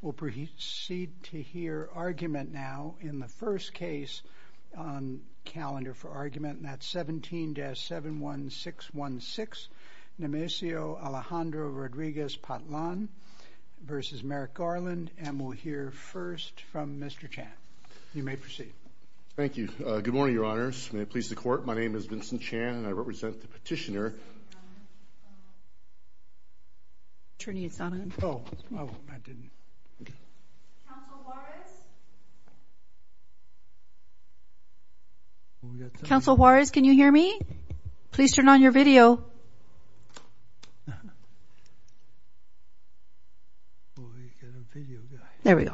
We'll proceed to hear argument now in the first case on calendar for argument and that's 17-71616 Nemesio Alejandro Rodriguez-Patlan v. Merrick Garland and we'll hear first from Mr. Chan. You may proceed. Thank you. Good morning, your honors. May it please the court, my name is Vincent Chan and I Council Juarez, can you hear me? Please turn on your video. There we go.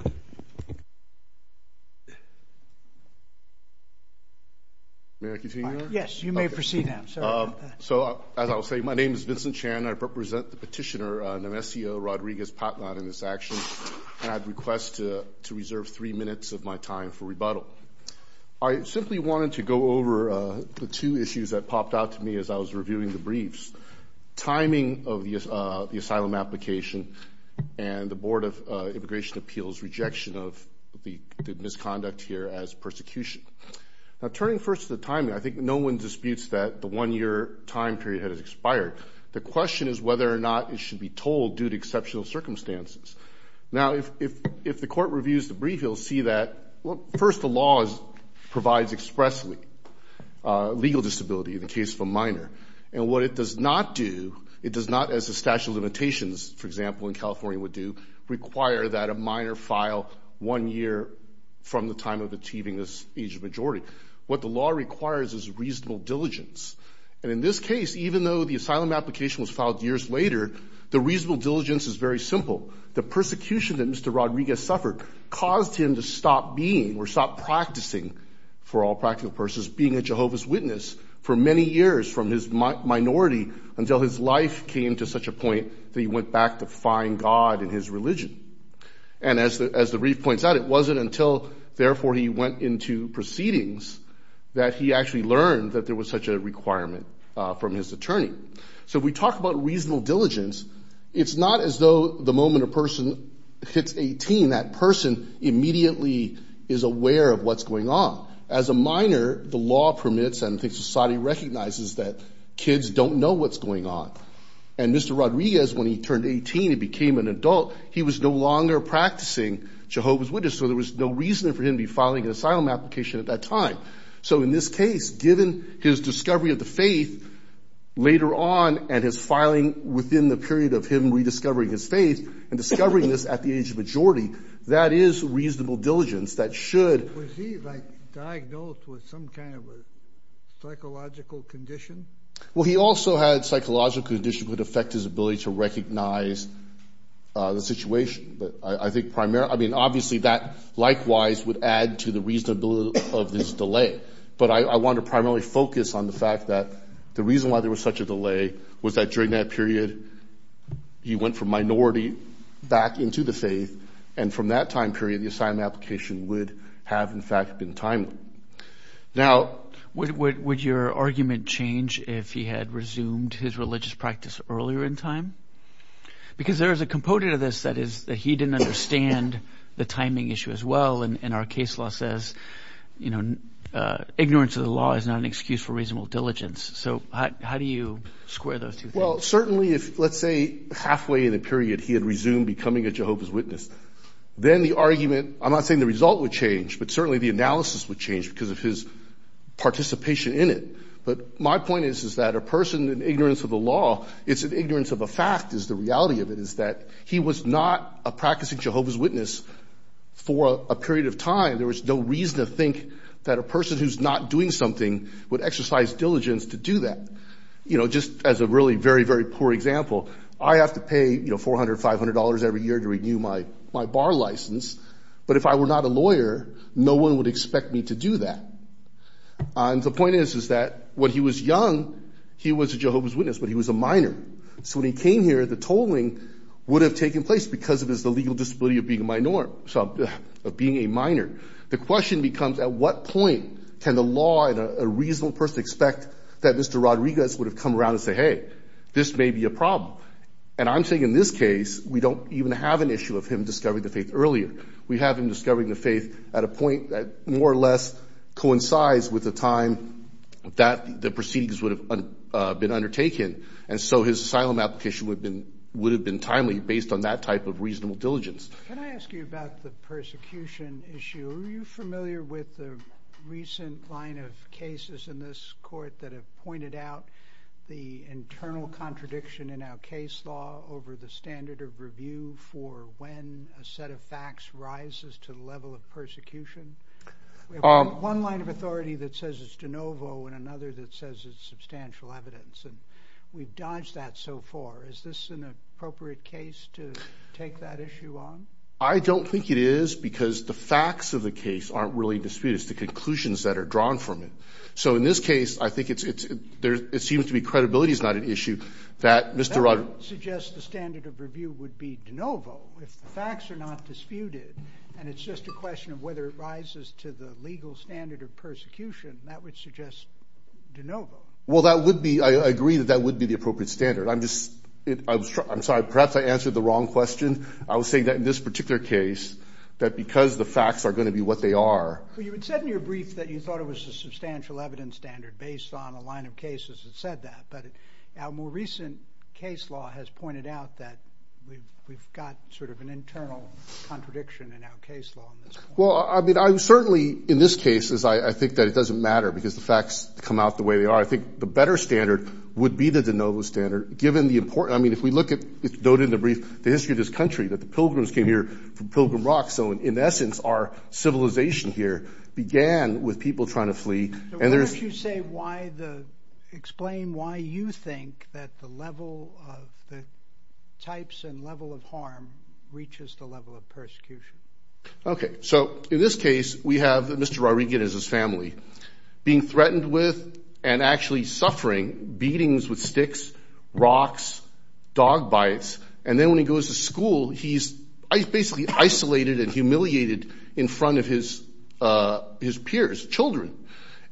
May I continue? Yes, you may proceed now. So as I'll say, my name is Vincent Chan. I represent the petitioner Nemesio Rodriguez-Patlan in this action. And I'd request to reserve three minutes of my time for rebuttal. I simply wanted to go over the two issues that popped out to me as I was reviewing the briefs. Timing of the asylum application and the Board of Immigration Appeals rejection of the misconduct here as persecution. Now turning first to the timing, I think no one disputes that the one year time period has expired. The question is whether or not it should be told due to exceptional circumstances. Now if the court reviews the brief, you'll see that first the law provides expressly legal disability in the case of a minor. And what it does not do, it does not as the statute of limitations, for example, in California would do, require that a minor file one year from the time of achieving this age of majority. What the law requires is reasonable diligence. And in this case, even though the asylum application was filed years later, the reasonable diligence is very simple. The persecution that Mr. Rodriguez suffered caused him to stop being or stop practicing, for all practical purposes, being a Jehovah's Witness for many years from his minority until his life came to such a point that he went back to find God in his religion. And as the brief points out, it wasn't until therefore he went into proceedings that he actually learned that there was such a requirement from his attorney. So if we talk about reasonable diligence, it's not as though the moment a person hits 18, that person immediately is aware of what's going on. As a minor, the law permits and I think society recognizes that kids don't know what's going on. And Mr. Rodriguez, when he turned 18 and became an adult, he was no longer practicing Jehovah's Witness, so there was no reason for him to be filing an asylum application at that time. So in this case, given his discovery of the faith later on and his filing within the period of him rediscovering his faith and discovering this at the age of majority, that is reasonable diligence that should... Was he diagnosed with some kind of a psychological condition? Well, he also had psychological conditions that would affect his ability to recognize the situation. But I think primarily... I mean, obviously, that likewise would add to the reasonability of this delay. But I want to primarily focus on the fact that the reason why there was such a delay was that during that period, he went from minority back into the faith. And from that time period, the asylum application would have, in fact, been timely. Would your argument change if he had resumed his religious practice earlier in time? Because there is a component of this that is that he didn't understand the timing issue as well. And our case law says, you know, ignorance of the law is not an excuse for reasonable diligence. So how do you square those two things? Well, certainly if, let's say, halfway in the period he had resumed becoming a Jehovah's Witness, then the argument... I'm not saying the result would change, but certainly the analysis would change because of his participation in it. But my point is that a person in ignorance of the law, it's an ignorance of a fact is the reality of it is that he was not a practicing Jehovah's Witness for a period of time. There was no reason to think that a person who's not doing something would exercise diligence to do that. You know, just as a really very, very poor example, I have to pay $400, $500 every year to renew my bar license. But if I were not a lawyer, no one would expect me to do that. And the point is, is that when he was young, he was a Jehovah's Witness, but he was a minor. So when he came here, the tolling would have taken place because of his legal disability of being a minor. The question becomes, at what point can the law and a reasonable person expect that Mr. Rodriguez would have come around and say, hey, this may be a problem. And I'm saying in this case, we don't even have an issue of him discovering the faith earlier. We have him discovering the faith at a point that more or less coincides with the time that the proceedings would have been undertaken. And so his asylum application would have been timely based on that type of reasonable diligence. Can I ask you about the persecution issue? Are you familiar with the recent line of cases in this court that have pointed out the internal contradiction in our case law over the standard of review for when a set of facts rises to the level of persecution? We have one line of authority that says it's de novo, and another that says it's substantial evidence. And we've dodged that so far. Is this an appropriate case to take that issue on? I don't think it is, because the facts of the case aren't really disputed. It's the conclusions that are drawn from it. So in this case, I think it seems to be credibility is not an issue that Mr. Rodriguez suggests the standard of review would be de novo. If the facts are not disputed, and it's just a question of whether it rises to the legal standard of persecution, that would suggest de novo. Well, that would be, I agree that that would be the appropriate standard. I'm sorry, perhaps I answered the wrong question. I was saying that in this particular case, that because the facts are going to be what they are. Well, you had said in your brief that you thought it was a substantial evidence standard based on a line of cases that said that. But our more recent case law has pointed out that we've got sort of an internal contradiction in our case law. Well, I mean, I'm certainly in this case, as I think that it doesn't matter because the facts come out the way they are. I think the better standard would be the de novo standard, given the important, I mean, if we look at, noted in the brief, the history of this country, that the Pilgrims came here from Pilgrim Rock. So in essence, our civilization here began with people trying to flee. Why don't you say why the, explain why you think that the level of the types and level of harm reaches the level of persecution? Okay, so in this case, we have Mr. Rodriguez's family being threatened with and actually suffering beatings with sticks, rocks, dog bites, and then when he goes to school, he's basically isolated and humiliated in front of his peers, children.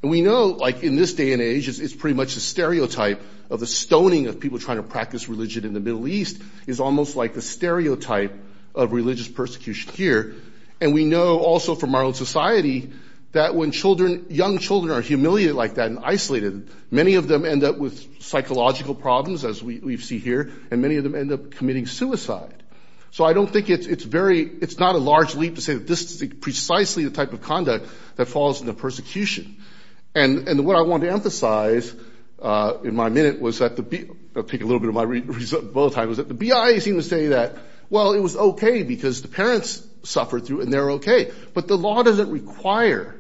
And we know, like in this day and age, it's pretty much a stereotype of the stoning of people trying to practice religion in the Middle East is almost like the stereotype of religious persecution here. And we know also from our own society that when children, young children are humiliated like that and isolated, many of them end up with psychological problems, as we see here, and many of them end up committing suicide. So I don't think it's very, it's not a large leap to say that this is precisely the type of conduct that falls into persecution. And what I want to emphasize in my minute was that the, I'll take a little bit of my bullet time, was that the BIA seemed to say that, well, it was okay because the parents suffered through it and they're okay. But the law doesn't require,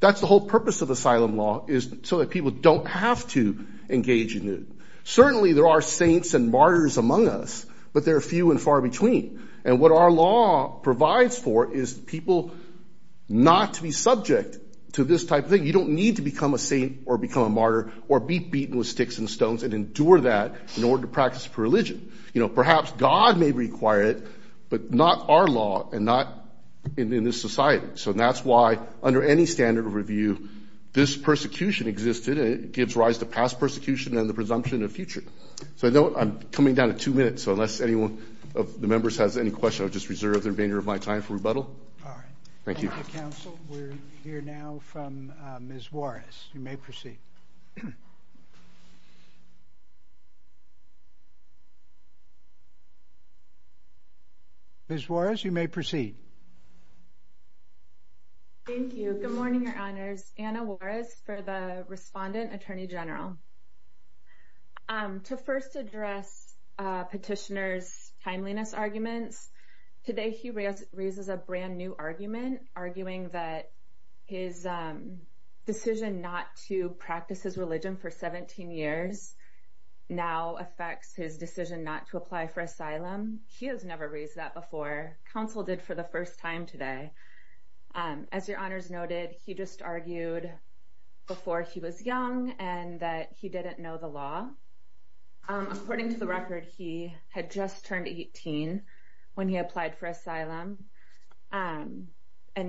that's the whole purpose of asylum law, is so that people don't have to engage in it. Certainly there are saints and martyrs among us, but there are few and far between. And what our law provides for is people not to be subject to this type of thing. You don't need to become a saint or become a martyr or be beaten with sticks and stones and endure that in order to practice religion. Perhaps God may require it, but not our law and not in this society. So that's why, under any standard of review, this persecution existed and it gives rise to past persecution and the presumption of future. So I know I'm coming down to two minutes, so unless anyone of the members has any questions, I'll just reserve the remainder of my time for rebuttal. All right. Thank you. Thank you, counsel. We're here now from Ms. Juarez. You may proceed. Ms. Juarez, you may proceed. Thank you. Good morning, Your Honors. Anna Juarez for the Respondent Attorney General. To first address petitioner's timeliness arguments, today he raises a brand-new argument, arguing that his decision not to practice his religion for 17 years now affects his decision not to apply for asylum. He has never raised that before. Counsel did for the first time today. As Your Honors noted, he just argued before he was young and that he didn't know the law. According to the record, he had just turned 18 when he applied for asylum, and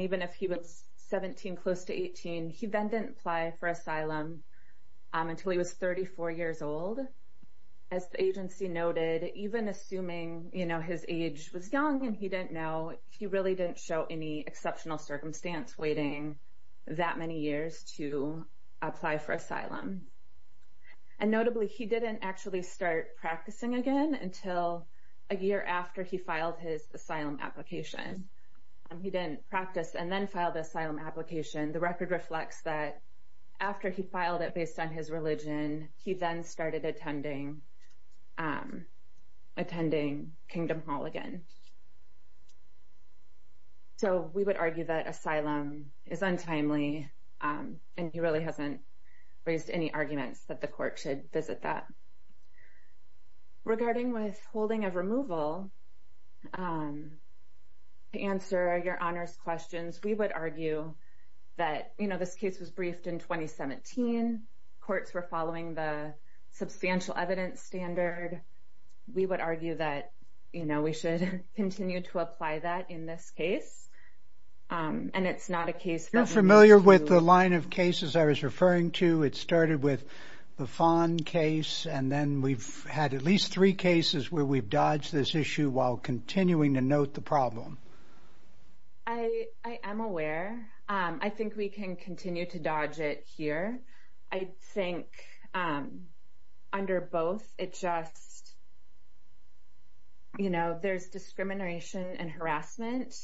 even if he was 17, close to 18, he then didn't apply for asylum until he was 34 years old. As the agency noted, even assuming, you know, his age was young and he didn't know, he really didn't show any exceptional circumstance waiting that many years to apply for asylum. And notably, he didn't actually start practicing again until a year after he filed his asylum application. He didn't practice and then filed the asylum application. The record reflects that after he filed it based on his religion, he then started attending, attending Kingdom Hall again. So we would argue that asylum is untimely, and he really hasn't raised any arguments that the court should visit that. Regarding withholding of removal, to answer Your Honors' questions, we would argue that, you know, this case was briefed in 2017. Courts were following the substantial evidence standard. We would argue that, you know, we should continue to apply that in this case. And it's not a case that... You're familiar with the line of cases I was referring to. It started with the Fon case, and then we've had at least three cases where we've dodged this issue while continuing to note the problem. I am aware. I think we can continue to dodge it here. I think under both, it's just, you know, there's discrimination and harassment.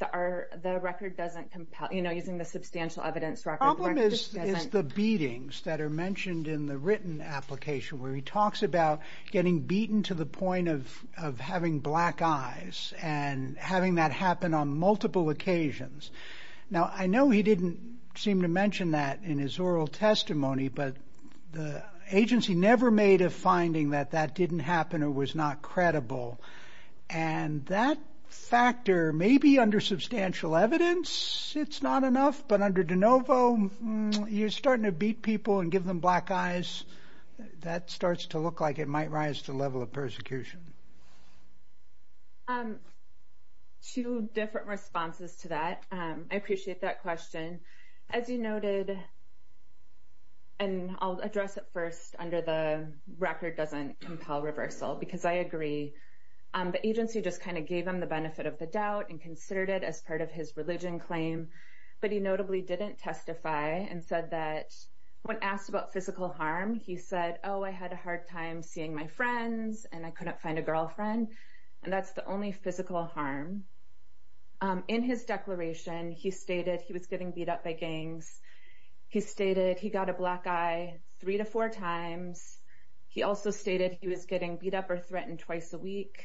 The record doesn't compel, you know, using the substantial evidence record. The problem is the beatings that are mentioned in the written application where he talks about getting beaten to the point of having black eyes and having that happen on multiple occasions. Now, I know he didn't seem to mention that in his oral testimony, but the agency never made a finding that that didn't happen or was not credible. And that factor, maybe under substantial evidence, it's not enough. But under de novo, you're starting to beat people and give them black eyes. That starts to look like it might rise to the level of persecution. Two different responses to that. I appreciate that question. As you noted, and I'll address it first, under the record doesn't compel reversal, because I agree. The agency just kind of gave him the benefit of the doubt and considered it as part of his religion claim. But he notably didn't testify and said that when asked about physical harm, he said, oh, I had a hard time seeing my friends and I couldn't find a girlfriend. And that's the only physical harm. In his declaration, he stated he was getting beat up by gangs. He stated he got a black eye three to four times. He also stated he was getting beat up or threatened twice a week.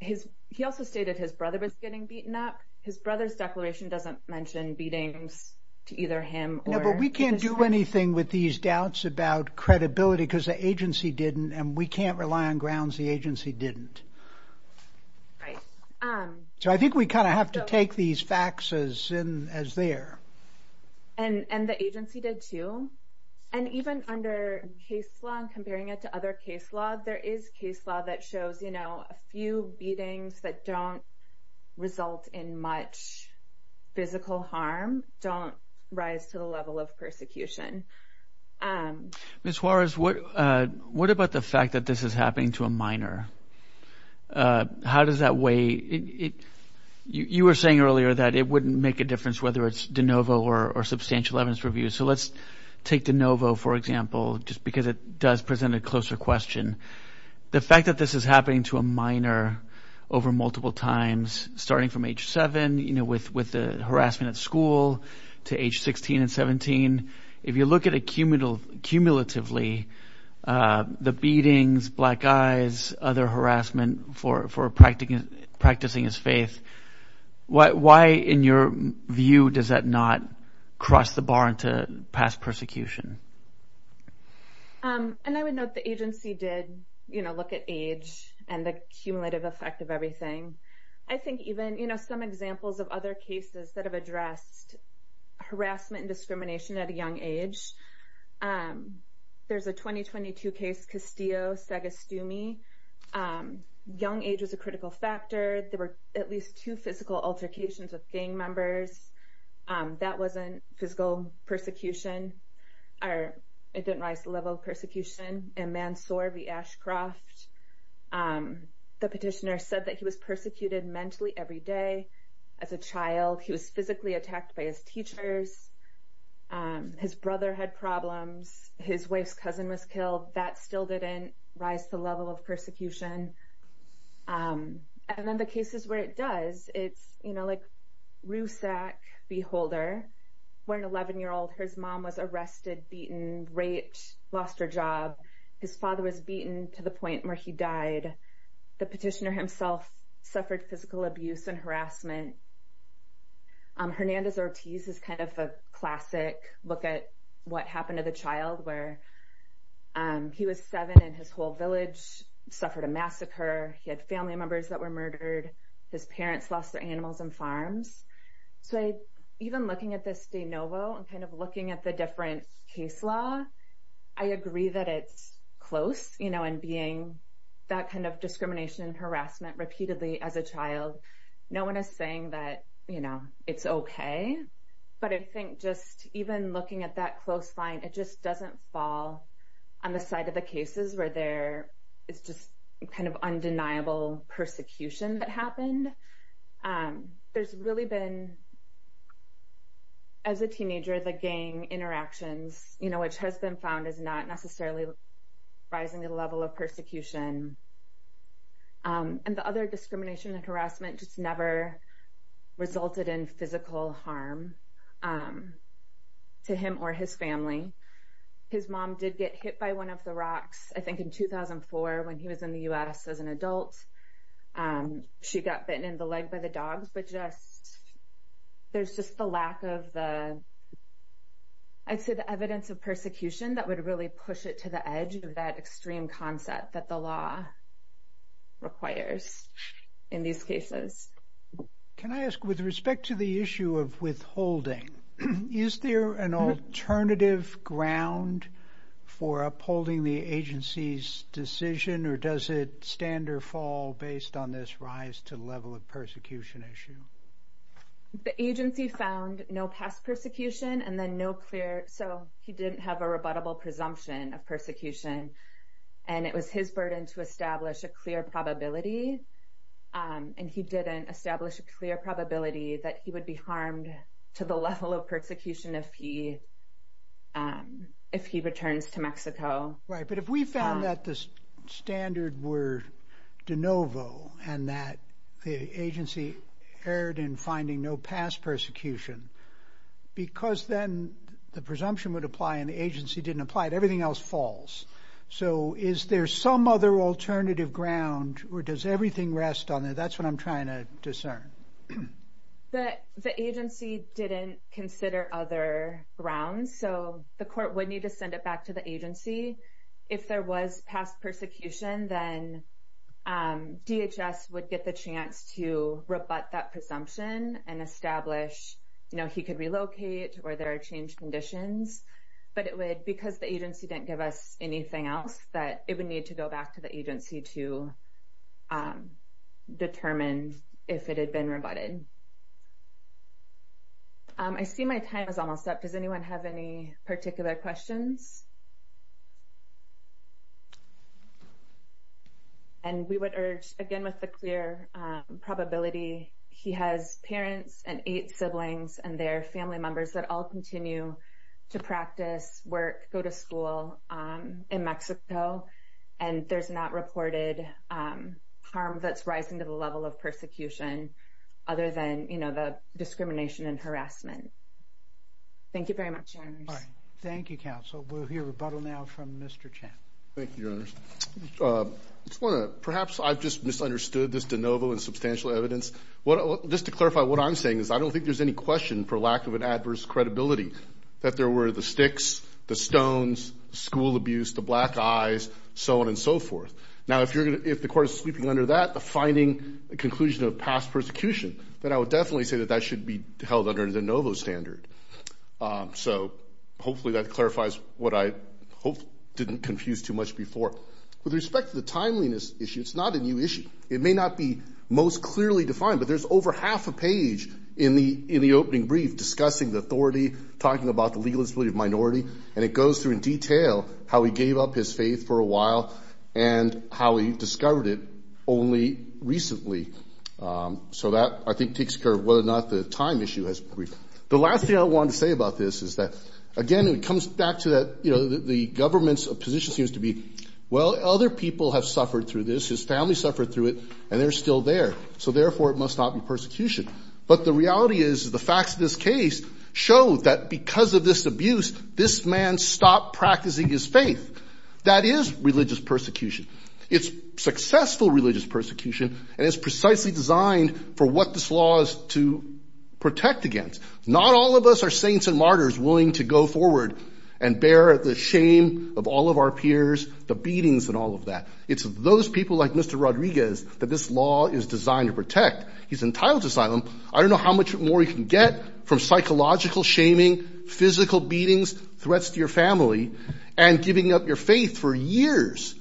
He also stated his brother was getting beaten up. His brother's declaration doesn't mention beatings to either him. No, but we can't do anything with these doubts about credibility because the agency didn't. And we can't rely on grounds the agency didn't. Right. So I think we kind of have to take these facts as they are. And the agency did, too. And even under case law and comparing it to other case law, there is case law that shows a few beatings that don't result in much physical harm don't rise to the level of persecution. Ms. Juarez, what about the fact that this is happening to a minor? How does that weigh – you were saying earlier that it wouldn't make a difference whether it's de novo or substantial evidence review. So let's take de novo, for example, just because it does present a closer question. The fact that this is happening to a minor over multiple times, starting from age seven with the harassment at school to age 16 and 17. If you look at it cumulatively, the beatings, black eyes, other harassment for practicing his faith, why in your view does that not cross the bar into past persecution? And I would note the agency did look at age and the cumulative effect of everything. I think even, you know, some examples of other cases that have addressed harassment and discrimination at a young age. There's a 2022 case, Castillo-Sagastumi. Young age was a critical factor. There were at least two physical altercations with gang members. That wasn't physical persecution. It didn't rise to the level of persecution. In Mansour v. Ashcroft, the petitioner said that he was persecuted mentally every day as a child. He was physically attacked by his teachers. His brother had problems. His wife's cousin was killed. That still didn't rise to the level of persecution. And then the cases where it does, it's, you know, like Rusak v. Holder, where an 11-year-old, his mom was arrested, beaten, raped, lost her job. His father was beaten to the point where he died. The petitioner himself suffered physical abuse and harassment. Hernandez-Ortiz is kind of a classic look at what happened to the child, where he was seven in his whole village, suffered a massacre. He had family members that were murdered. His parents lost their animals and farms. So even looking at this de novo and kind of looking at the different case law, I agree that it's close, you know, and being that kind of discrimination and harassment repeatedly as a child. No one is saying that, you know, it's okay. But I think just even looking at that close line, it just doesn't fall on the side of the cases where there is just kind of undeniable persecution that happened. There's really been, as a teenager, the gang interactions, you know, which has been found as not necessarily rising the level of persecution. And the other discrimination and harassment just never resulted in physical harm to him or his family. His mom did get hit by one of the rocks, I think, in 2004 when he was in the U.S. as an adult. She got bitten in the leg by the dogs. There's just the lack of the, I'd say the evidence of persecution that would really push it to the edge of that extreme concept that the law requires in these cases. Can I ask, with respect to the issue of withholding, is there an alternative ground for upholding the agency's decision, or does it stand or fall based on this rise to the level of persecution issue? The agency found no past persecution and then no clear, so he didn't have a rebuttable presumption of persecution. And it was his burden to establish a clear probability, and he didn't establish a clear probability that he would be harmed to the level of persecution if he returns to Mexico. Right, but if we found that the standard were de novo and that the agency erred in finding no past persecution, because then the presumption would apply and the agency didn't apply, everything else falls. So is there some other alternative ground, or does everything rest on it? That's what I'm trying to discern. The agency didn't consider other grounds, so the court would need to send it back to the agency. If there was past persecution, then DHS would get the chance to rebut that presumption and establish, you know, he could relocate or there are change conditions. But it would, because the agency didn't give us anything else, that it would need to go back to the agency to determine if it had been rebutted. I see my time is almost up. Does anyone have any particular questions? And we would urge, again, with the clear probability, he has parents and eight siblings and their family members that all continue to practice, work, go to school in Mexico, and there's not reported harm that's rising to the level of persecution, other than, you know, the discrimination and harassment. Thank you very much. Thank you, Counsel. We'll hear rebuttal now from Mr. Chan. Thank you, Your Honors. Perhaps I've just misunderstood this de novo and substantial evidence. Just to clarify what I'm saying is I don't think there's any question for lack of an adverse credibility that there were the sticks, the stones, school abuse, the black eyes, so on and so forth. Now, if the court is sleeping under that, the finding, the conclusion of past persecution, then I would definitely say that that should be held under the de novo standard. So hopefully that clarifies what I hope didn't confuse too much before. With respect to the timeliness issue, it's not a new issue. It may not be most clearly defined, but there's over half a page in the opening brief discussing the authority, talking about the legal disability of minority, and it goes through in detail how he gave up his faith for a while and how he discovered it only recently. So that, I think, takes care of whether or not the time issue has been briefed. The last thing I wanted to say about this is that, again, it comes back to that, you know, the government's position seems to be, well, other people have suffered through this. His family suffered through it, and they're still there. So, therefore, it must not be persecution. But the reality is the facts of this case show that because of this abuse, this man stopped practicing his faith. That is religious persecution. It's successful religious persecution, and it's precisely designed for what this law is to protect against. Not all of us are saints and martyrs willing to go forward and bear the shame of all of our peers, the beatings and all of that. It's those people like Mr. Rodriguez that this law is designed to protect. He's entitled to asylum. I don't know how much more he can get from psychological shaming, physical beatings, threats to your family, and giving up your faith for years.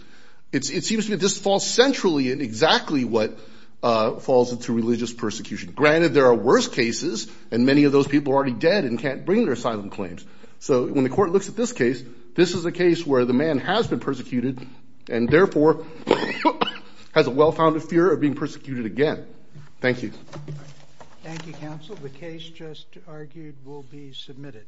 It seems to me this falls centrally in exactly what falls into religious persecution. Granted, there are worse cases, and many of those people are already dead and can't bring their asylum claims. So when the court looks at this case, this is a case where the man has been persecuted and, therefore, has a well-founded fear of being persecuted again. Thank you. Thank you, counsel. The case just argued will be submitted.